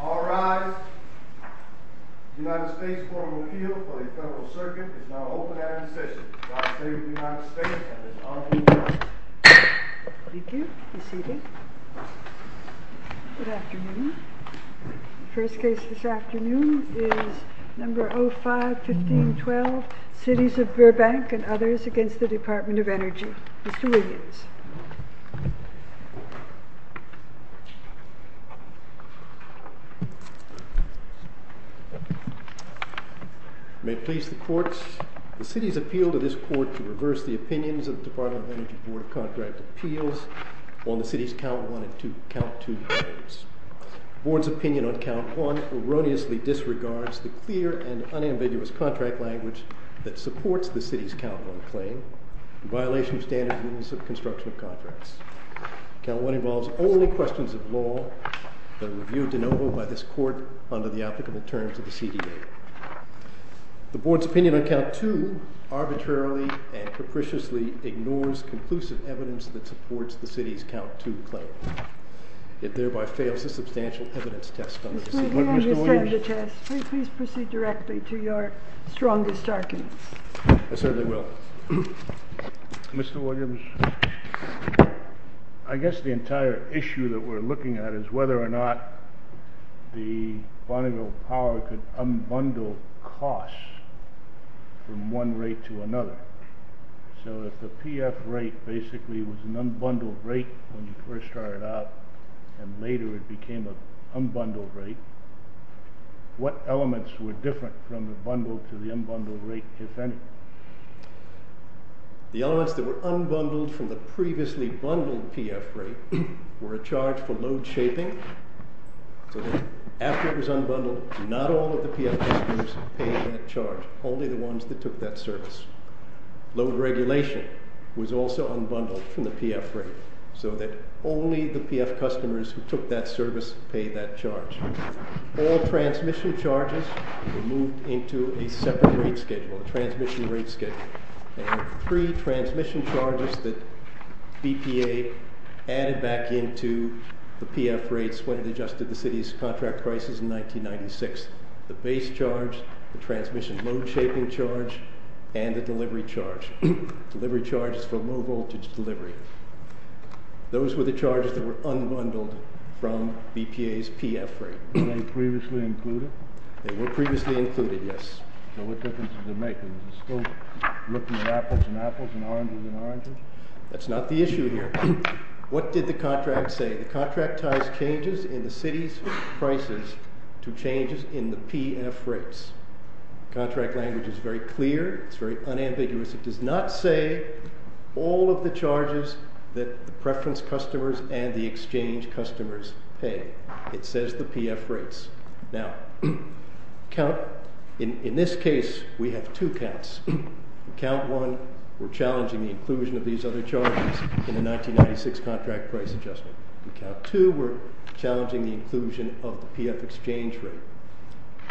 All rise. The United States Court of Appeal for the Federal Circuit is now open and in session. God save the United States and its honorable members. Thank you. Be seated. Good afternoon. The first case this afternoon is number 05-1512, Cities of Burbank and Others against the Department of Energy. Mr. Wiggins. May it please the courts, the city's appeal to this court to reverse the opinions of the Department of Energy board of contract appeals on the city's count 1 and count 2 claims. The board's opinion on count 1 erroneously disregards the clear and unambiguous contract language that supports the city's count 1 claim in violation of standard rules of construction of contracts. Count 1 involves only questions of law that are reviewed de novo by this court under the applicable terms of the CDA. The board's opinion on count 2 arbitrarily and capriciously ignores conclusive evidence that supports the city's count 2 claim. It thereby fails the substantial evidence test on the city. Mr. Wiggins. Please proceed directly to your strongest arguments. I certainly will. Mr. Wiggins, I guess the entire issue that we're looking at is whether or not the Bonneville Power could unbundle costs from one rate to another. So if the PF rate basically was an unbundled rate when you first started out and later it became an unbundled rate, what elements were different from the bundled to the unbundled rate, if any? The elements that were unbundled from the previously bundled PF rate were a charge for load shaping, so that after it was unbundled, not all of the PF customers paid that charge, only the ones that took that service. Load regulation was also unbundled from the PF rate, so that only the PF customers who took that service paid that charge. All transmission charges were moved into a separate rate schedule, a transmission rate schedule. There were three transmission charges that BPA added back into the PF rates when it adjusted the city's contract prices in 1996. The base charge, the transmission load shaping charge, and the delivery charge. Delivery charge is for low voltage delivery. Those were the charges that were unbundled from BPA's PF rate. Were they previously included? They were previously included, yes. So what difference does it make? Is it still looking at apples and apples and oranges and oranges? That's not the issue here. What did the contract say? The contract ties changes in the city's prices to changes in the PF rates. Contract language is very clear. It's very unambiguous. It does not say all of the charges that the preference customers and the exchange customers pay. It says the PF rates. Now, in this case, we have two counts. In count one, we're challenging the inclusion of these other charges in the 1996 contract price adjustment. In count two, we're challenging the inclusion of the PF exchange rate.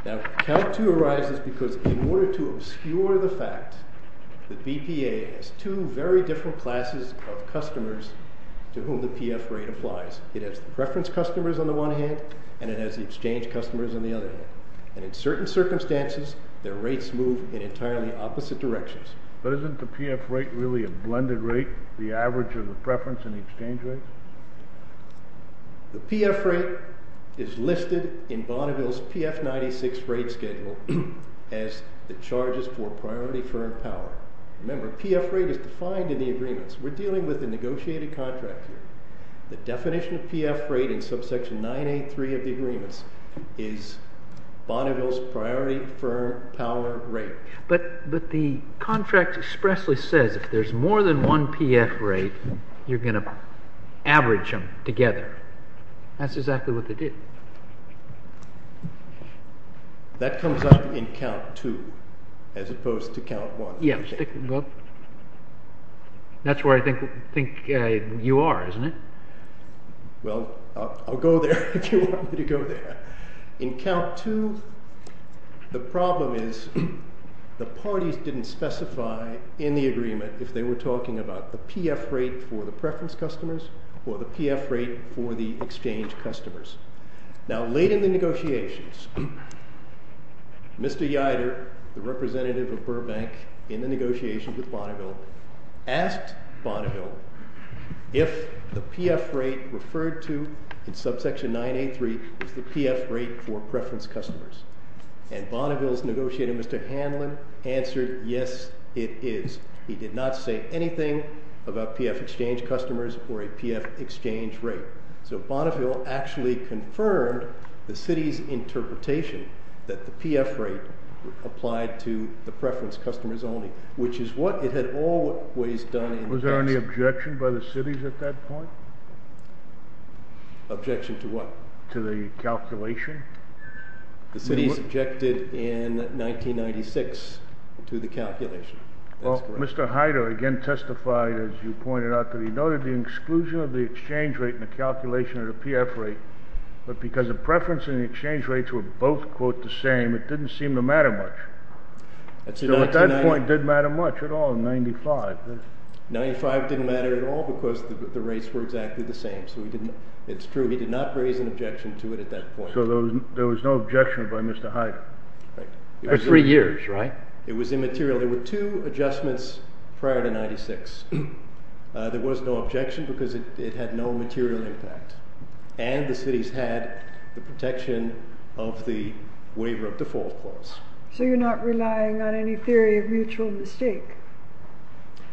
Now, count two arises because in order to obscure the fact that BPA has two very different classes of customers to whom the PF rate applies. It has the preference customers on the one hand, and it has the exchange customers on the other hand. And in certain circumstances, their rates move in entirely opposite directions. But isn't the PF rate really a blended rate, the average of the preference and the exchange rates? The PF rate is listed in Bonneville's PF 96 rate schedule as the charges for priority firm power. Remember, PF rate is defined in the agreements. We're dealing with a negotiated contract here. The definition of PF rate in subsection 983 of the agreements is Bonneville's priority firm power rate. But the contract expressly says if there's more than one PF rate, you're going to average them together. That's exactly what they did. That comes up in count two as opposed to count one. Yes. That's where I think you are, isn't it? Well, I'll go there if you want me to go there. In count two, the problem is the parties didn't specify in the agreement if they were talking about the PF rate for the preference customers or the PF rate for the exchange customers. Now, late in the negotiations, Mr. Yeider, the representative of Burbank in the negotiations with Bonneville, asked Bonneville if the PF rate referred to in subsection 983 is the PF rate for preference customers. And Bonneville's negotiator, Mr. Hanlon, answered, yes, it is. He did not say anything about PF exchange customers or a PF exchange rate. So Bonneville actually confirmed the city's interpretation that the PF rate applied to the preference customers only, which is what it had always done. Was there any objection by the cities at that point? Objection to what? To the calculation. The cities objected in 1996 to the calculation. Well, Mr. Heider again testified, as you pointed out, that he noted the exclusion of the exchange rate in the calculation of the PF rate. But because the preference and the exchange rates were both, quote, the same, it didn't seem to matter much. So at that point, it didn't matter much at all in 95. 95 didn't matter at all because the rates were exactly the same. So it's true. He did not raise an objection to it at that point. So there was no objection by Mr. Heider. For three years, right? It was immaterial. There were two adjustments prior to 96. There was no objection because it had no material impact. And the cities had the protection of the waiver of default clause. So you're not relying on any theory of mutual mistake.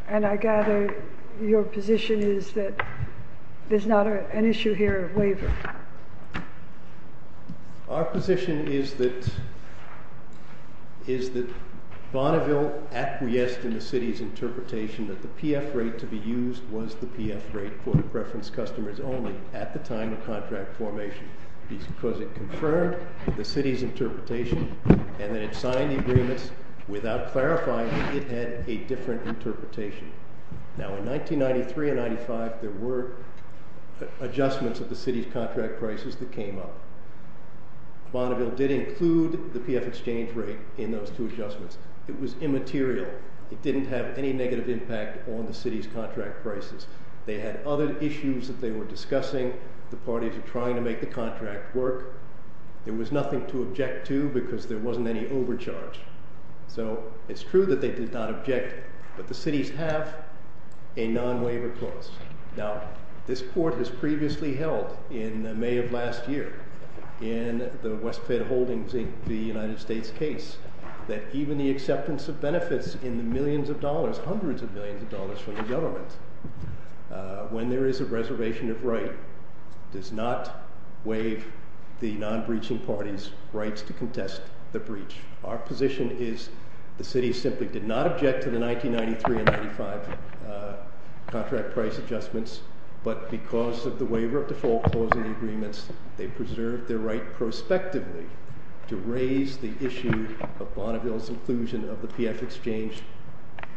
And I gather your position is that there's not an issue here of waiver. Our position is that Bonneville acquiesced in the city's interpretation that the PF rate to be used was the PF rate for the preference customers only at the time of contract formation. Because it confirmed the city's interpretation and then it signed the agreements without clarifying that it had a different interpretation. Now in 1993 and 95, there were adjustments of the city's contract prices that came up. Bonneville did include the PF exchange rate in those two adjustments. It was immaterial. It didn't have any negative impact on the city's contract prices. They had other issues that they were discussing. The parties were trying to make the contract work. There was nothing to object to because there wasn't any overcharge. So it's true that they did not object. But the cities have a non-waiver clause. Now this court has previously held in May of last year in the Westpac holdings in the United States case that even the acceptance of benefits in the millions of dollars, hundreds of millions of dollars from the government, when there is a reservation of right, does not waive the non-breaching party's rights to contest the breach. Our position is the city simply did not object to the 1993 and 95 contract price adjustments. But because of the waiver of default clause in the agreements, they preserved their right prospectively to raise the issue of Bonneville's inclusion of the PF exchange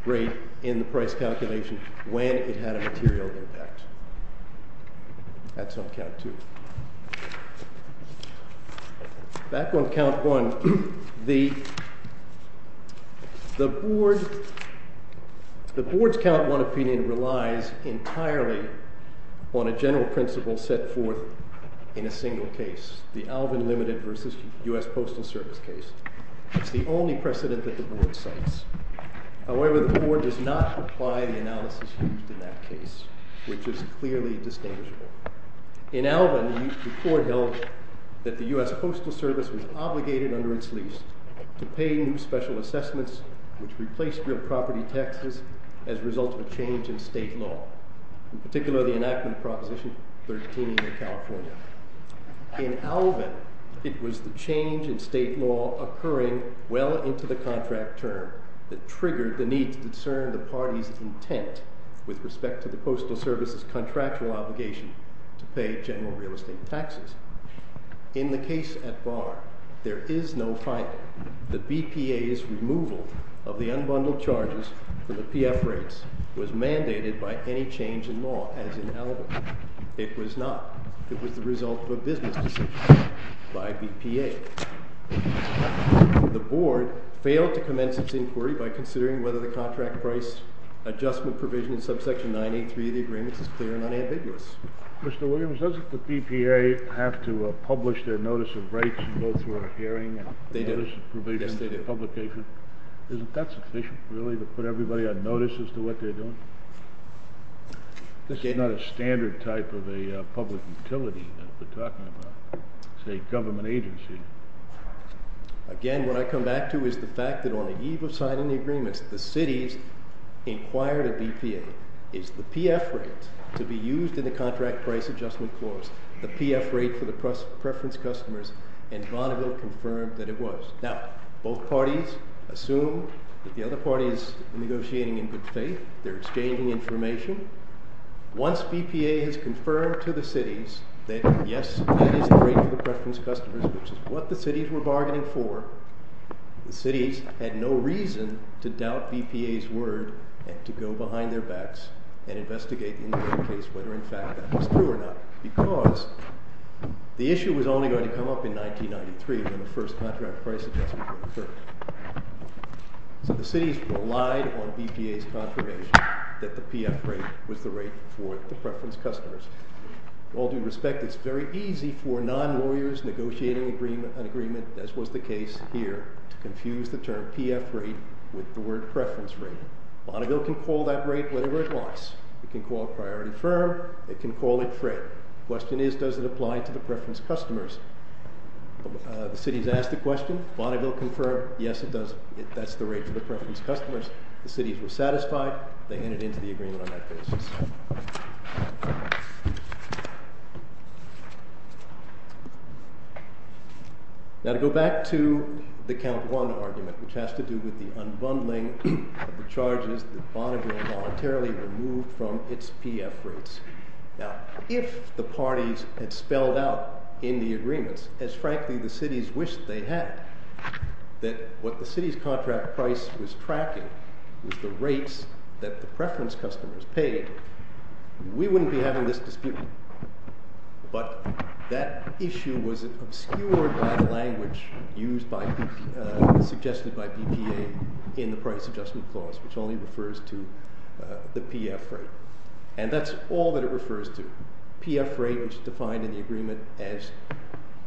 rate in the price calculation when it had a material impact. That's on count two. Back on count one. The board's count one opinion relies entirely on a general principle set forth in a single case, the Alvin Limited versus U.S. Postal Service case. It's the only precedent that the board cites. However, the board does not apply the analysis used in that case, which is clearly distinguishable. In Alvin, the court held that the U.S. Postal Service was obligated under its lease to pay new special assessments which replaced real property taxes as a result of a change in state law, in particular the enactment of Proposition 13 in California. In Alvin, it was the change in state law occurring well into the contract term that triggered the need to discern the party's intent with respect to the Postal Service's contractual obligation to pay general real estate taxes. In the case at Barr, there is no finding that BPA's removal of the unbundled charges for the PF rates was mandated by any change in law, as in Alvin. It was not. It was the result of a business decision by BPA. The board failed to commence its inquiry by considering whether the contract price adjustment provision in subsection 983 of the agreements is clear and unambiguous. Mr. Williams, doesn't the BPA have to publish their notice of rates and go through a hearing and notice of provision? Yes, they do. Isn't that sufficient, really, to put everybody on notice as to what they're doing? This is not a standard type of a public utility that we're talking about. It's a government agency. Again, what I come back to is the fact that on the eve of signing the agreements, the cities inquired of BPA. Is the PF rate to be used in the contract price adjustment clause, the PF rate for the preference customers, and Bonneville confirmed that it was. Now, both parties assume that the other party is negotiating in good faith. They're exchanging information. Once BPA has confirmed to the cities that, yes, that is the rate for the preference customers, which is what the cities were bargaining for, the cities had no reason to doubt BPA's word and to go behind their backs and investigate in their own case whether, in fact, that was true or not, because the issue was only going to come up in 1993 when the first contract price adjustment was referred. So the cities relied on BPA's confirmation that the PF rate was the rate for the preference customers. With all due respect, it's very easy for non-lawyers negotiating an agreement, as was the case here, to confuse the term PF rate with the word preference rate. Bonneville can call that rate whatever it wants. It can call it priority firm. It can call it freight. The question is, does it apply to the preference customers? The cities asked the question. Bonneville confirmed, yes, it does. That's the rate for the preference customers. The cities were satisfied. They handed in to the agreement on that basis. Now to go back to the count one argument, which has to do with the unbundling of the charges that Bonneville voluntarily removed from its PF rates. Now if the parties had spelled out in the agreements, as frankly the cities wished they had, that what the city's contract price was tracking was the rates that the preference customers paid, we wouldn't be having this dispute. But that issue was obscured by the language used by – suggested by BPA in the price adjustment clause, which only refers to the PF rate. And that's all that it refers to. PF rate is defined in the agreement as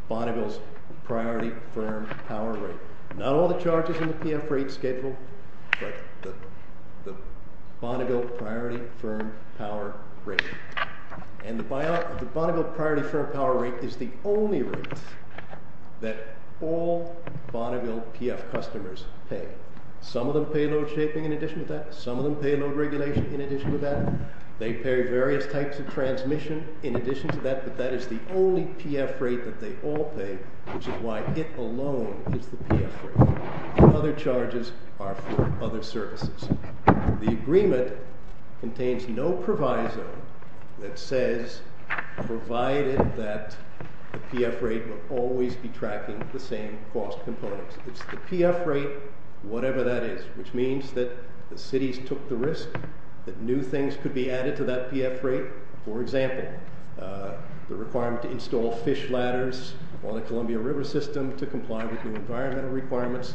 Bonneville's priority firm power rate. Not all the charges in the PF rate schedule, but the Bonneville priority firm power rate. And the Bonneville priority firm power rate is the only rate that all Bonneville PF customers pay. Some of them pay load shaping in addition to that. Some of them pay load regulation in addition to that. They pay various types of transmission in addition to that, but that is the only PF rate that they all pay, which is why it alone is the PF rate. Other charges are for other services. The agreement contains no proviso that says provided that the PF rate will always be tracking the same cost components. It's the PF rate, whatever that is, which means that the cities took the risk that new things could be added to that PF rate. For example, the requirement to install fish ladders on the Columbia River system to comply with new environmental requirements.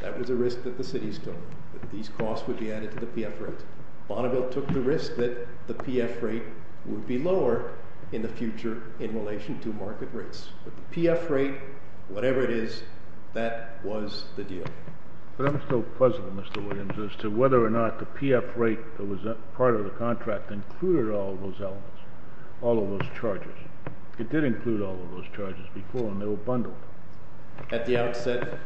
That was a risk that the cities took, that these costs would be added to the PF rate. Bonneville took the risk that the PF rate would be lower in the future in relation to market rates. But the PF rate, whatever it is, that was the deal. But I'm still puzzled, Mr. Williams, as to whether or not the PF rate that was part of the contract included all of those elements, all of those charges. It did include all of those charges before, and they were bundled. At the outset,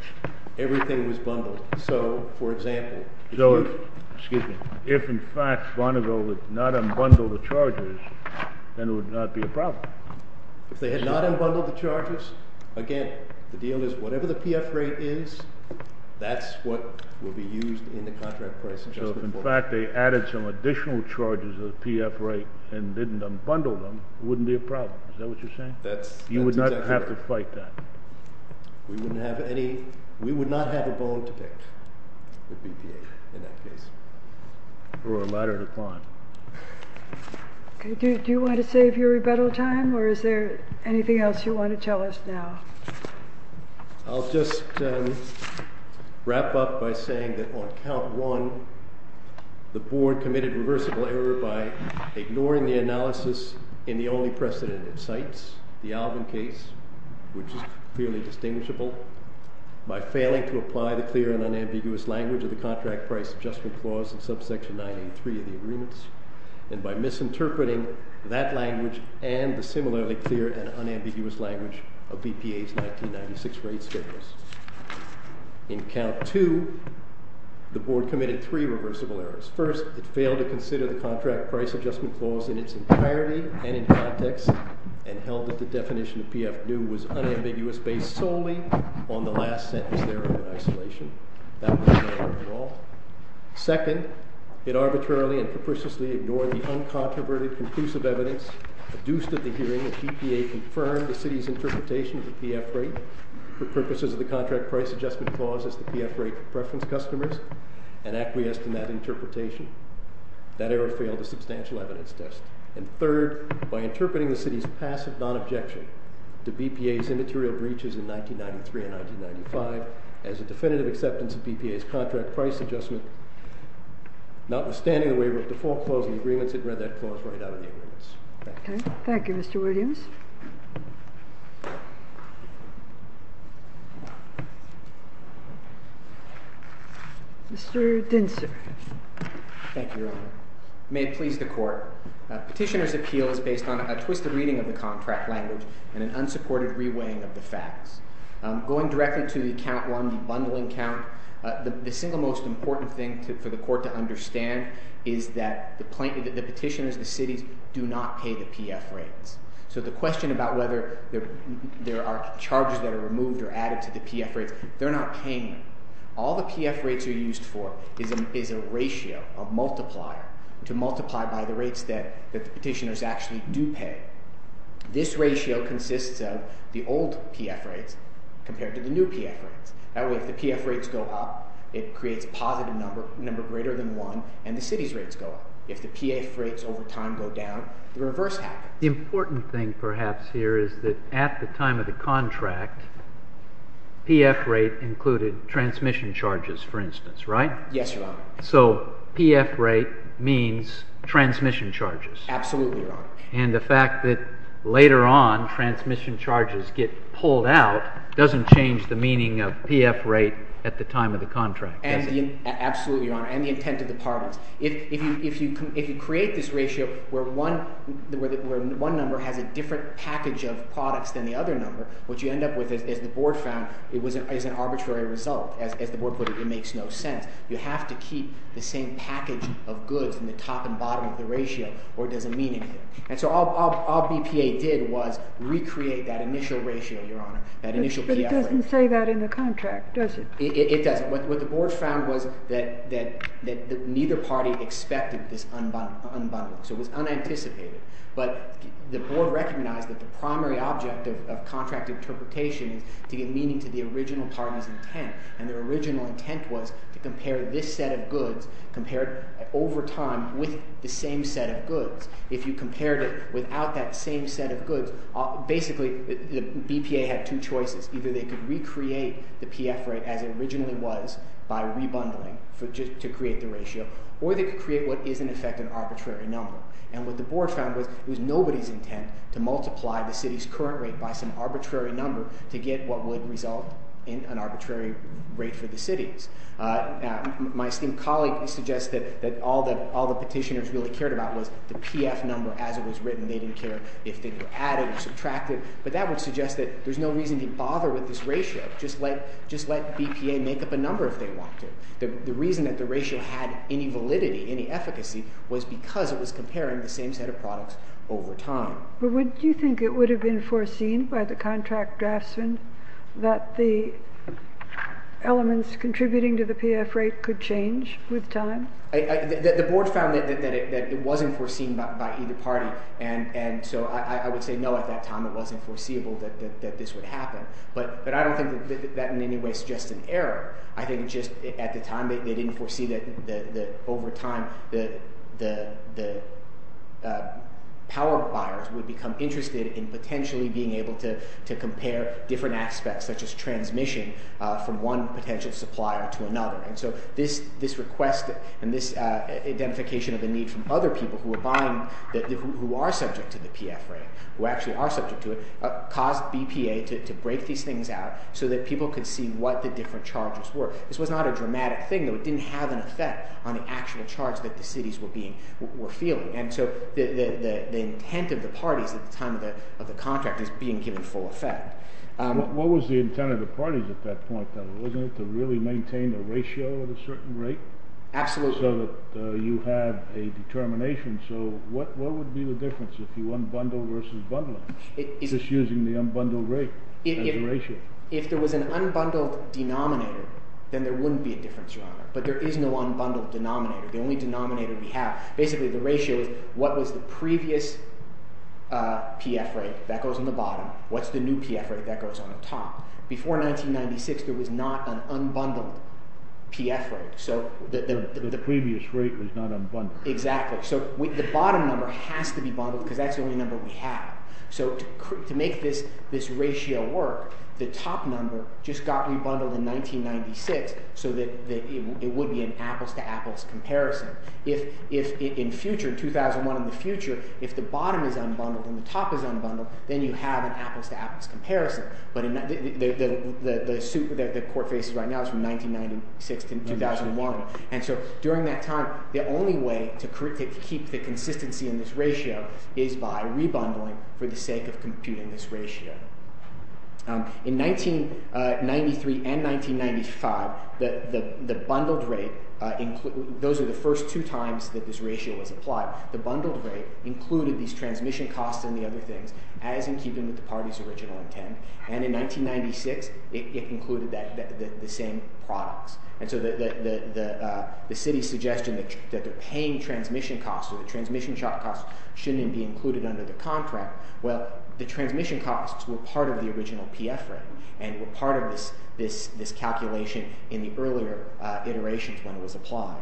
everything was bundled. So, for example— So, excuse me, if in fact Bonneville would not unbundle the charges, then it would not be a problem. If they had not unbundled the charges, again, the deal is whatever the PF rate is, that's what will be used in the contract price adjustment. So, if in fact they added some additional charges to the PF rate and didn't unbundle them, it wouldn't be a problem. Is that what you're saying? That's exactly right. You would not have to fight that. We would not have a bone to pick with BPA in that case. Or a ladder to climb. Do you want to save your rebuttal time, or is there anything else you want to tell us now? I'll just wrap up by saying that on count one, the Board committed reversible error by ignoring the analysis in the only precedent it cites, the Alvin case, which is clearly distinguishable, by failing to apply the clear and unambiguous language of the contract price adjustment clause in subsection 983 of the agreements, and by misinterpreting that language and the similarly clear and unambiguous language of BPA's 1996 rate schedules. In count two, the Board committed three reversible errors. First, it failed to consider the contract price adjustment clause in its entirety and in context, and held that the definition of PF new was unambiguous based solely on the last sentence thereof in isolation. That was not correct at all. Second, it arbitrarily and preposterously ignored the uncontroverted conclusive evidence produced at the hearing that BPA confirmed the city's interpretation of the PF rate for purposes of the contract price adjustment clause as the PF rate for preference customers, and acquiesced in that interpretation. That error failed the substantial evidence test. And third, by interpreting the city's passive non-objection to BPA's immaterial breaches in 1993 and 1995 as a definitive acceptance of BPA's contract price adjustment, notwithstanding the waiver of default clause in the agreements, it read that clause right out of the agreements. Thank you. Thank you, Mr. Williams. Mr. Dinser. Thank you, Your Honor. May it please the Court. Petitioner's appeal is based on a twisted reading of the contract language and an unsupported reweighing of the facts. Going directly to the count one, the bundling count, the single most important thing for the Court to understand is that the petitioners, the cities, do not pay the PF rates. So the question about whether there are charges that are removed or added to the PF rates, they're not paying them. All the PF rates are used for is a ratio, a multiplier, to multiply by the rates that the petitioners actually do pay. This ratio consists of the old PF rates compared to the new PF rates. That way, if the PF rates go up, it creates a positive number, a number greater than one, and the city's rates go up. If the PF rates over time go down, the reverse happens. The important thing, perhaps, here is that at the time of the contract, PF rate included transmission charges, for instance, right? Yes, Your Honor. Absolutely, Your Honor. And the fact that later on transmission charges get pulled out doesn't change the meaning of PF rate at the time of the contract, does it? Absolutely, Your Honor, and the intent of the parties. If you create this ratio where one number has a different package of products than the other number, what you end up with, as the board found, is an arbitrary result. As the board put it, it makes no sense. You have to keep the same package of goods in the top and bottom of the ratio, or it doesn't mean anything. And so all BPA did was recreate that initial ratio, Your Honor, that initial PF rate. But it doesn't say that in the contract, does it? It doesn't. What the board found was that neither party expected this unbundling, so it was unanticipated. But the board recognized that the primary object of contract interpretation is to give meaning to the original party's intent. And their original intent was to compare this set of goods, compare it over time with the same set of goods. If you compared it without that same set of goods, basically the BPA had two choices. Either they could recreate the PF rate as it originally was by rebundling to create the ratio, or they could create what is, in effect, an arbitrary number. And what the board found was it was nobody's intent to multiply the city's current rate by some arbitrary number to get what would result in an arbitrary rate for the cities. My esteemed colleague suggested that all the petitioners really cared about was the PF number as it was written. They didn't care if they added or subtracted. But that would suggest that there's no reason to bother with this ratio. Just let BPA make up a number if they want to. The reason that the ratio had any validity, any efficacy, was because it was comparing the same set of products over time. But would you think it would have been foreseen by the contract draftsman that the elements contributing to the PF rate could change with time? The board found that it wasn't foreseen by either party. And so I would say no, at that time it wasn't foreseeable that this would happen. But I don't think that in any way suggests an error. I think just at the time they didn't foresee that over time the power buyers would become interested in potentially being able to compare different aspects such as transmission from one potential supplier to another. And so this request and this identification of the need from other people who are buying, who are subject to the PF rate, who actually are subject to it, caused BPA to break these things out so that people could see what the different charges were. This was not a dramatic thing, though. It didn't have an effect on the actual charge that the cities were feeling. And so the intent of the parties at the time of the contract is being given full effect. What was the intent of the parties at that point, though? Wasn't it to really maintain the ratio at a certain rate? Absolutely. So that you have a determination. So what would be the difference if you unbundled versus bundling, just using the unbundled rate as a ratio? If there was an unbundled denominator, then there wouldn't be a difference, Your Honor. But there is no unbundled denominator. The only denominator we have – basically the ratio is what was the previous PF rate that goes on the bottom, what's the new PF rate that goes on the top. Before 1996 there was not an unbundled PF rate. The previous rate was not unbundled. Exactly. So the bottom number has to be bundled because that's the only number we have. So to make this ratio work, the top number just got re-bundled in 1996 so that it would be an apples-to-apples comparison. If in future, 2001 in the future, if the bottom is unbundled and the top is unbundled, then you have an apples-to-apples comparison. But the suit that the court faces right now is from 1996 to 2001. And so during that time, the only way to keep the consistency in this ratio is by re-bundling for the sake of computing this ratio. In 1993 and 1995, the bundled rate – those are the first two times that this ratio was applied. The bundled rate included these transmission costs and the other things as in keeping with the party's original intent. And in 1996, it included the same products. And so the city's suggestion that the paying transmission costs or the transmission costs shouldn't be included under the contract. Well, the transmission costs were part of the original PF rate and were part of this calculation in the earlier iterations when it was applied.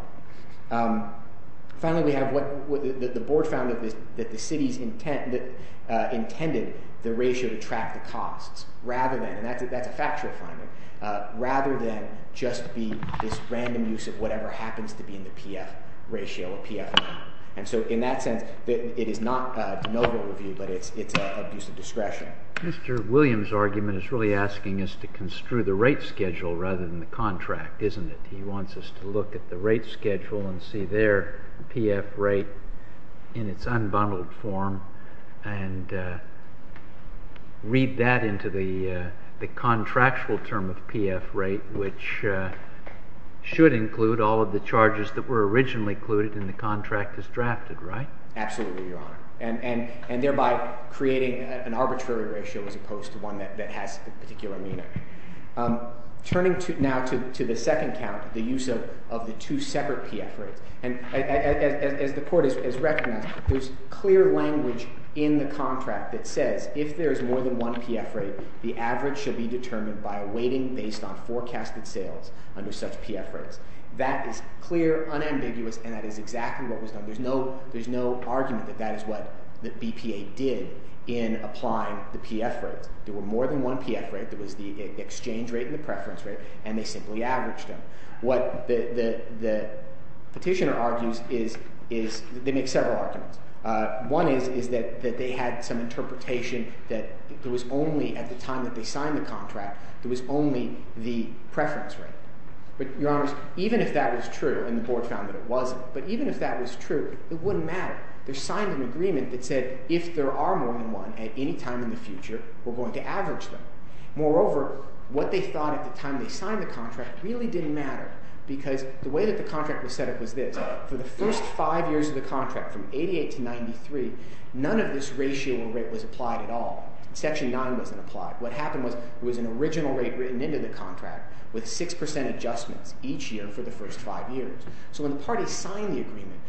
Finally, we have what the board found that the city's intended the ratio to track the costs rather than – and that's a factual finding – rather than just be this random use of whatever happens to be in the PF ratio or PF. And so in that sense, it is not a de novo review, but it's a use of discretion. Mr. Williams' argument is really asking us to construe the rate schedule rather than the contract, isn't it? He wants us to look at the rate schedule and see their PF rate in its unbundled form and read that into the contractual term of PF rate, which should include all of the charges that were originally included in the contract as drafted, right? Absolutely, Your Honor, and thereby creating an arbitrary ratio as opposed to one that has a particular meaning. Turning now to the second count, the use of the two separate PF rates. And as the court has recognized, there's clear language in the contract that says if there's more than one PF rate, the average should be determined by a weighting based on forecasted sales under such PF rates. That is clear, unambiguous, and that is exactly what was done. There's no argument that that is what the BPA did in applying the PF rates. There were more than one PF rate. There was the exchange rate and the preference rate, and they simply averaged them. What the petitioner argues is they make several arguments. One is that they had some interpretation that there was only at the time that they signed the contract, there was only the preference rate. But, Your Honors, even if that was true and the board found that it wasn't, but even if that was true, it wouldn't matter. They signed an agreement that said if there are more than one at any time in the future, we're going to average them. Moreover, what they thought at the time they signed the contract really didn't matter because the way that the contract was set up was this. For the first five years of the contract from 88 to 93, none of this ratio or rate was applied at all. Section 9 wasn't applied. What happened was it was an original rate written into the contract with 6% adjustments each year for the first five years. So when the parties signed the agreement,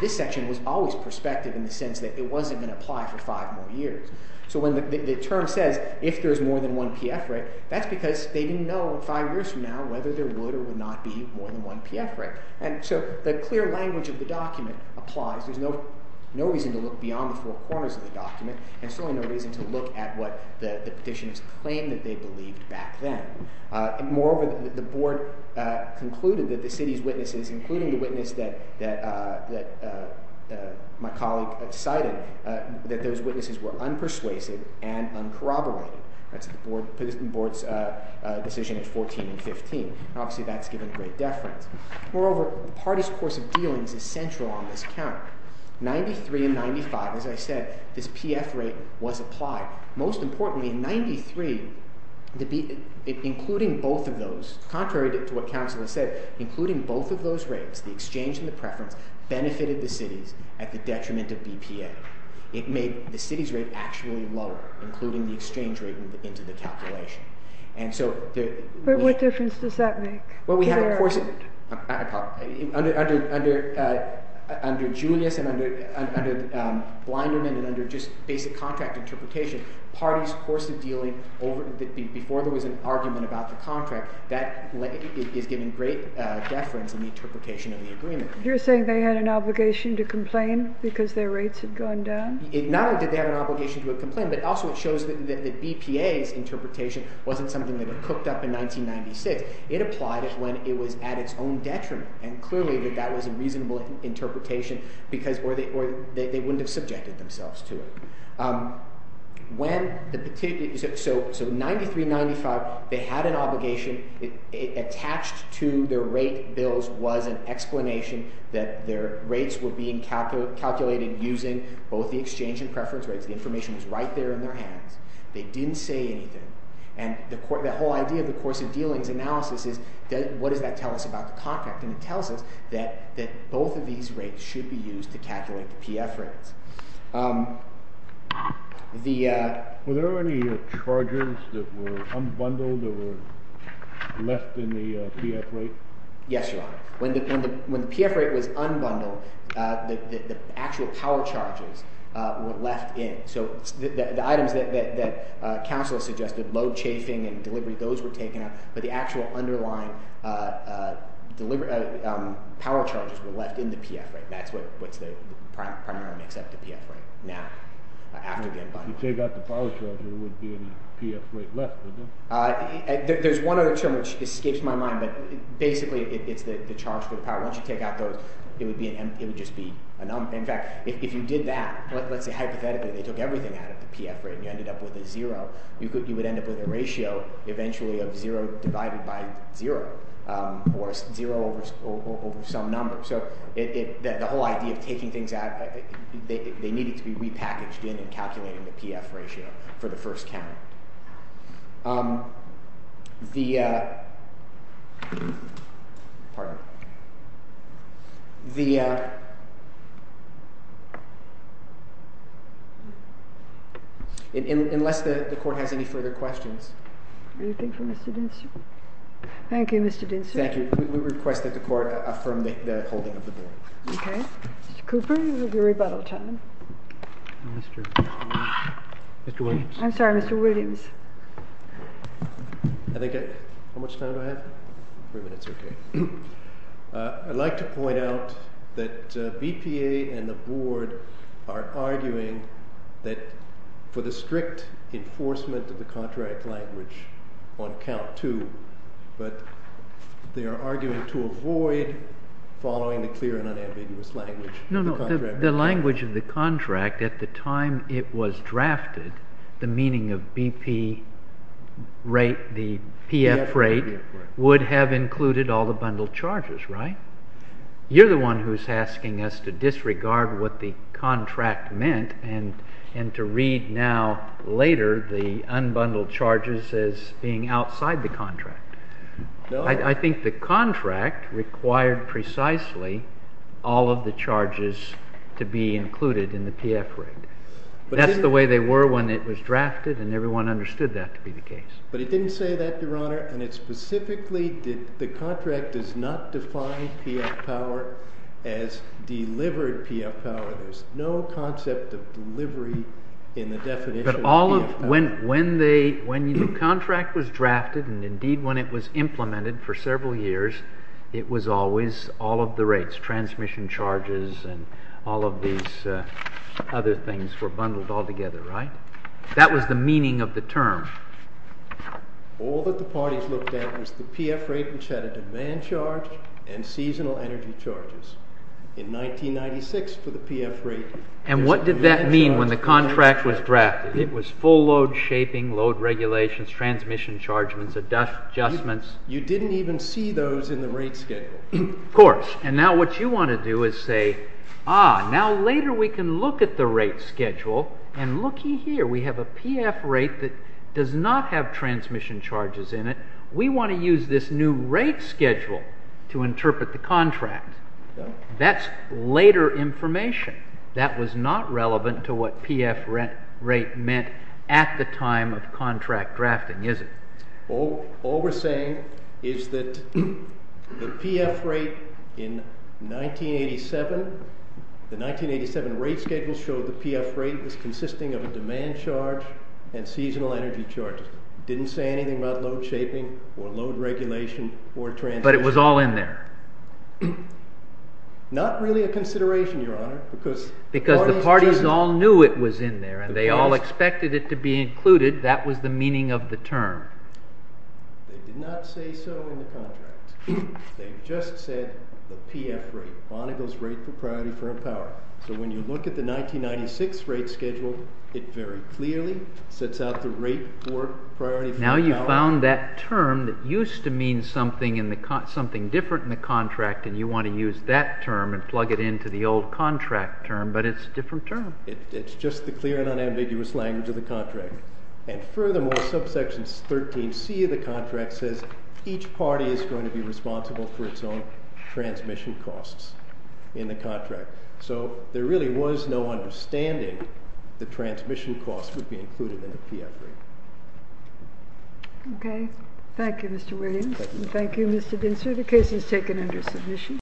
this section was always prospective in the sense that it wasn't going to apply for five more years. So when the term says if there's more than one PF rate, that's because they didn't know five years from now whether there would or would not be more than one PF rate. And so the clear language of the document applies. There's no reason to look beyond the four corners of the document and certainly no reason to look at what the petitioners claimed that they believed back then. Moreover, the board concluded that the city's witnesses, including the witness that my colleague cited, that those witnesses were unpersuasive and uncorroborated. That's the board's decision at 14 and 15. Obviously, that's given great deference. Moreover, the parties' course of dealings is central on this count. 93 and 95, as I said, this PF rate was applied. Most importantly, 93, including both of those, contrary to what council has said, including both of those rates, the exchange and the preference, benefited the cities at the detriment of BPA. It made the city's rate actually lower, including the exchange rate into the calculation. And so... But what difference does that make? Well, we have a course – under Julius and under Blinderman and under just basic contract interpretation, parties' course of dealing over – before there was an argument about the contract, that is given great deference in the interpretation of the agreement. You're saying they had an obligation to complain because their rates had gone down? Not only did they have an obligation to complain, but also it shows that BPA's interpretation wasn't something that had cooked up in 1996. It applied it when it was at its own detriment, and clearly that that was a reasonable interpretation because – or they wouldn't have subjected themselves to it. When the particular – so 93, 95, they had an obligation. Attached to their rate bills was an explanation that their rates were being calculated using both the exchange and preference rates. The information was right there in their hands. They didn't say anything. And the whole idea of the course of dealings analysis is what does that tell us about the contract? And it tells us that both of these rates should be used to calculate the PF rates. Were there any charges that were unbundled or left in the PF rate? Yes, Your Honor. When the PF rate was unbundled, the actual power charges were left in. So the items that counsel suggested, load chafing and delivery, those were taken out, but the actual underlying power charges were left in the PF rate. That's what's the primary mix-up, the PF rate. Now, after the unbundling. If you take out the power charge, there wouldn't be any PF rate left, would there? There's one other term which escapes my mind, but basically it's the charge for the power. Once you take out those, it would just be – in fact, if you did that, let's say hypothetically, they took everything out of the PF rate and you ended up with a 0, you would end up with a ratio eventually of 0 divided by 0 or 0 over some number. So the whole idea of taking things out, they needed to be repackaged in and calculated in the PF ratio for the first count. The – unless the Court has any further questions. Anything for Mr. Dinser? Thank you, Mr. Dinser. Thank you. We request that the Court affirm the holding of the board. Okay. Mr. Cooper, your rebuttal time. Mr. Williams. I'm sorry, Mr. Williams. How much time do I have? Three minutes, okay. I'd like to point out that BPA and the board are arguing that for the strict enforcement of the contract language on count two, but they are arguing to avoid following the clear and unambiguous language of the contract. At the time it was drafted, the meaning of BP rate, the PF rate would have included all the bundled charges, right? You're the one who's asking us to disregard what the contract meant and to read now later the unbundled charges as being outside the contract. I think the contract required precisely all of the charges to be included in the PF rate. That's the way they were when it was drafted, and everyone understood that to be the case. But it didn't say that, Your Honor, and it specifically did – the contract does not define PF power as delivered PF power. There's no concept of delivery in the definition of PF power. When the contract was drafted, and indeed when it was implemented for several years, it was always all of the rates, transmission charges and all of these other things were bundled all together, right? That was the meaning of the term. All that the parties looked at was the PF rate, which had a demand charge and seasonal energy charges. In 1996 for the PF rate – And what did that mean when the contract was drafted? It was full load shaping, load regulations, transmission chargements, adjustments. You didn't even see those in the rate schedule. Of course, and now what you want to do is say, ah, now later we can look at the rate schedule and looky here, we have a PF rate that does not have transmission charges in it. We want to use this new rate schedule to interpret the contract. That's later information. That was not relevant to what PF rate meant at the time of contract drafting, is it? All we're saying is that the PF rate in 1987 – the 1987 rate schedule showed the PF rate was consisting of a demand charge and seasonal energy charge. It didn't say anything about load shaping or load regulation or transmission. But it was all in there. Not really a consideration, Your Honor, because – Because the parties all knew it was in there and they all expected it to be included. That was the meaning of the term. They did not say so in the contract. They just said the PF rate, Bonneville's rate for priority firm power. So when you look at the 1996 rate schedule, it very clearly sets out the rate for priority firm power. Now you found that term that used to mean something different in the contract, and you want to use that term and plug it into the old contract term, but it's a different term. It's just the clear and unambiguous language of the contract. And furthermore, subsection 13C of the contract says each party is going to be responsible for its own transmission costs in the contract. So there really was no understanding that transmission costs would be included in the PF rate. Okay. Thank you, Mr. Williams. Thank you. Thank you, Mr. Dinsifer. The case is taken under submission.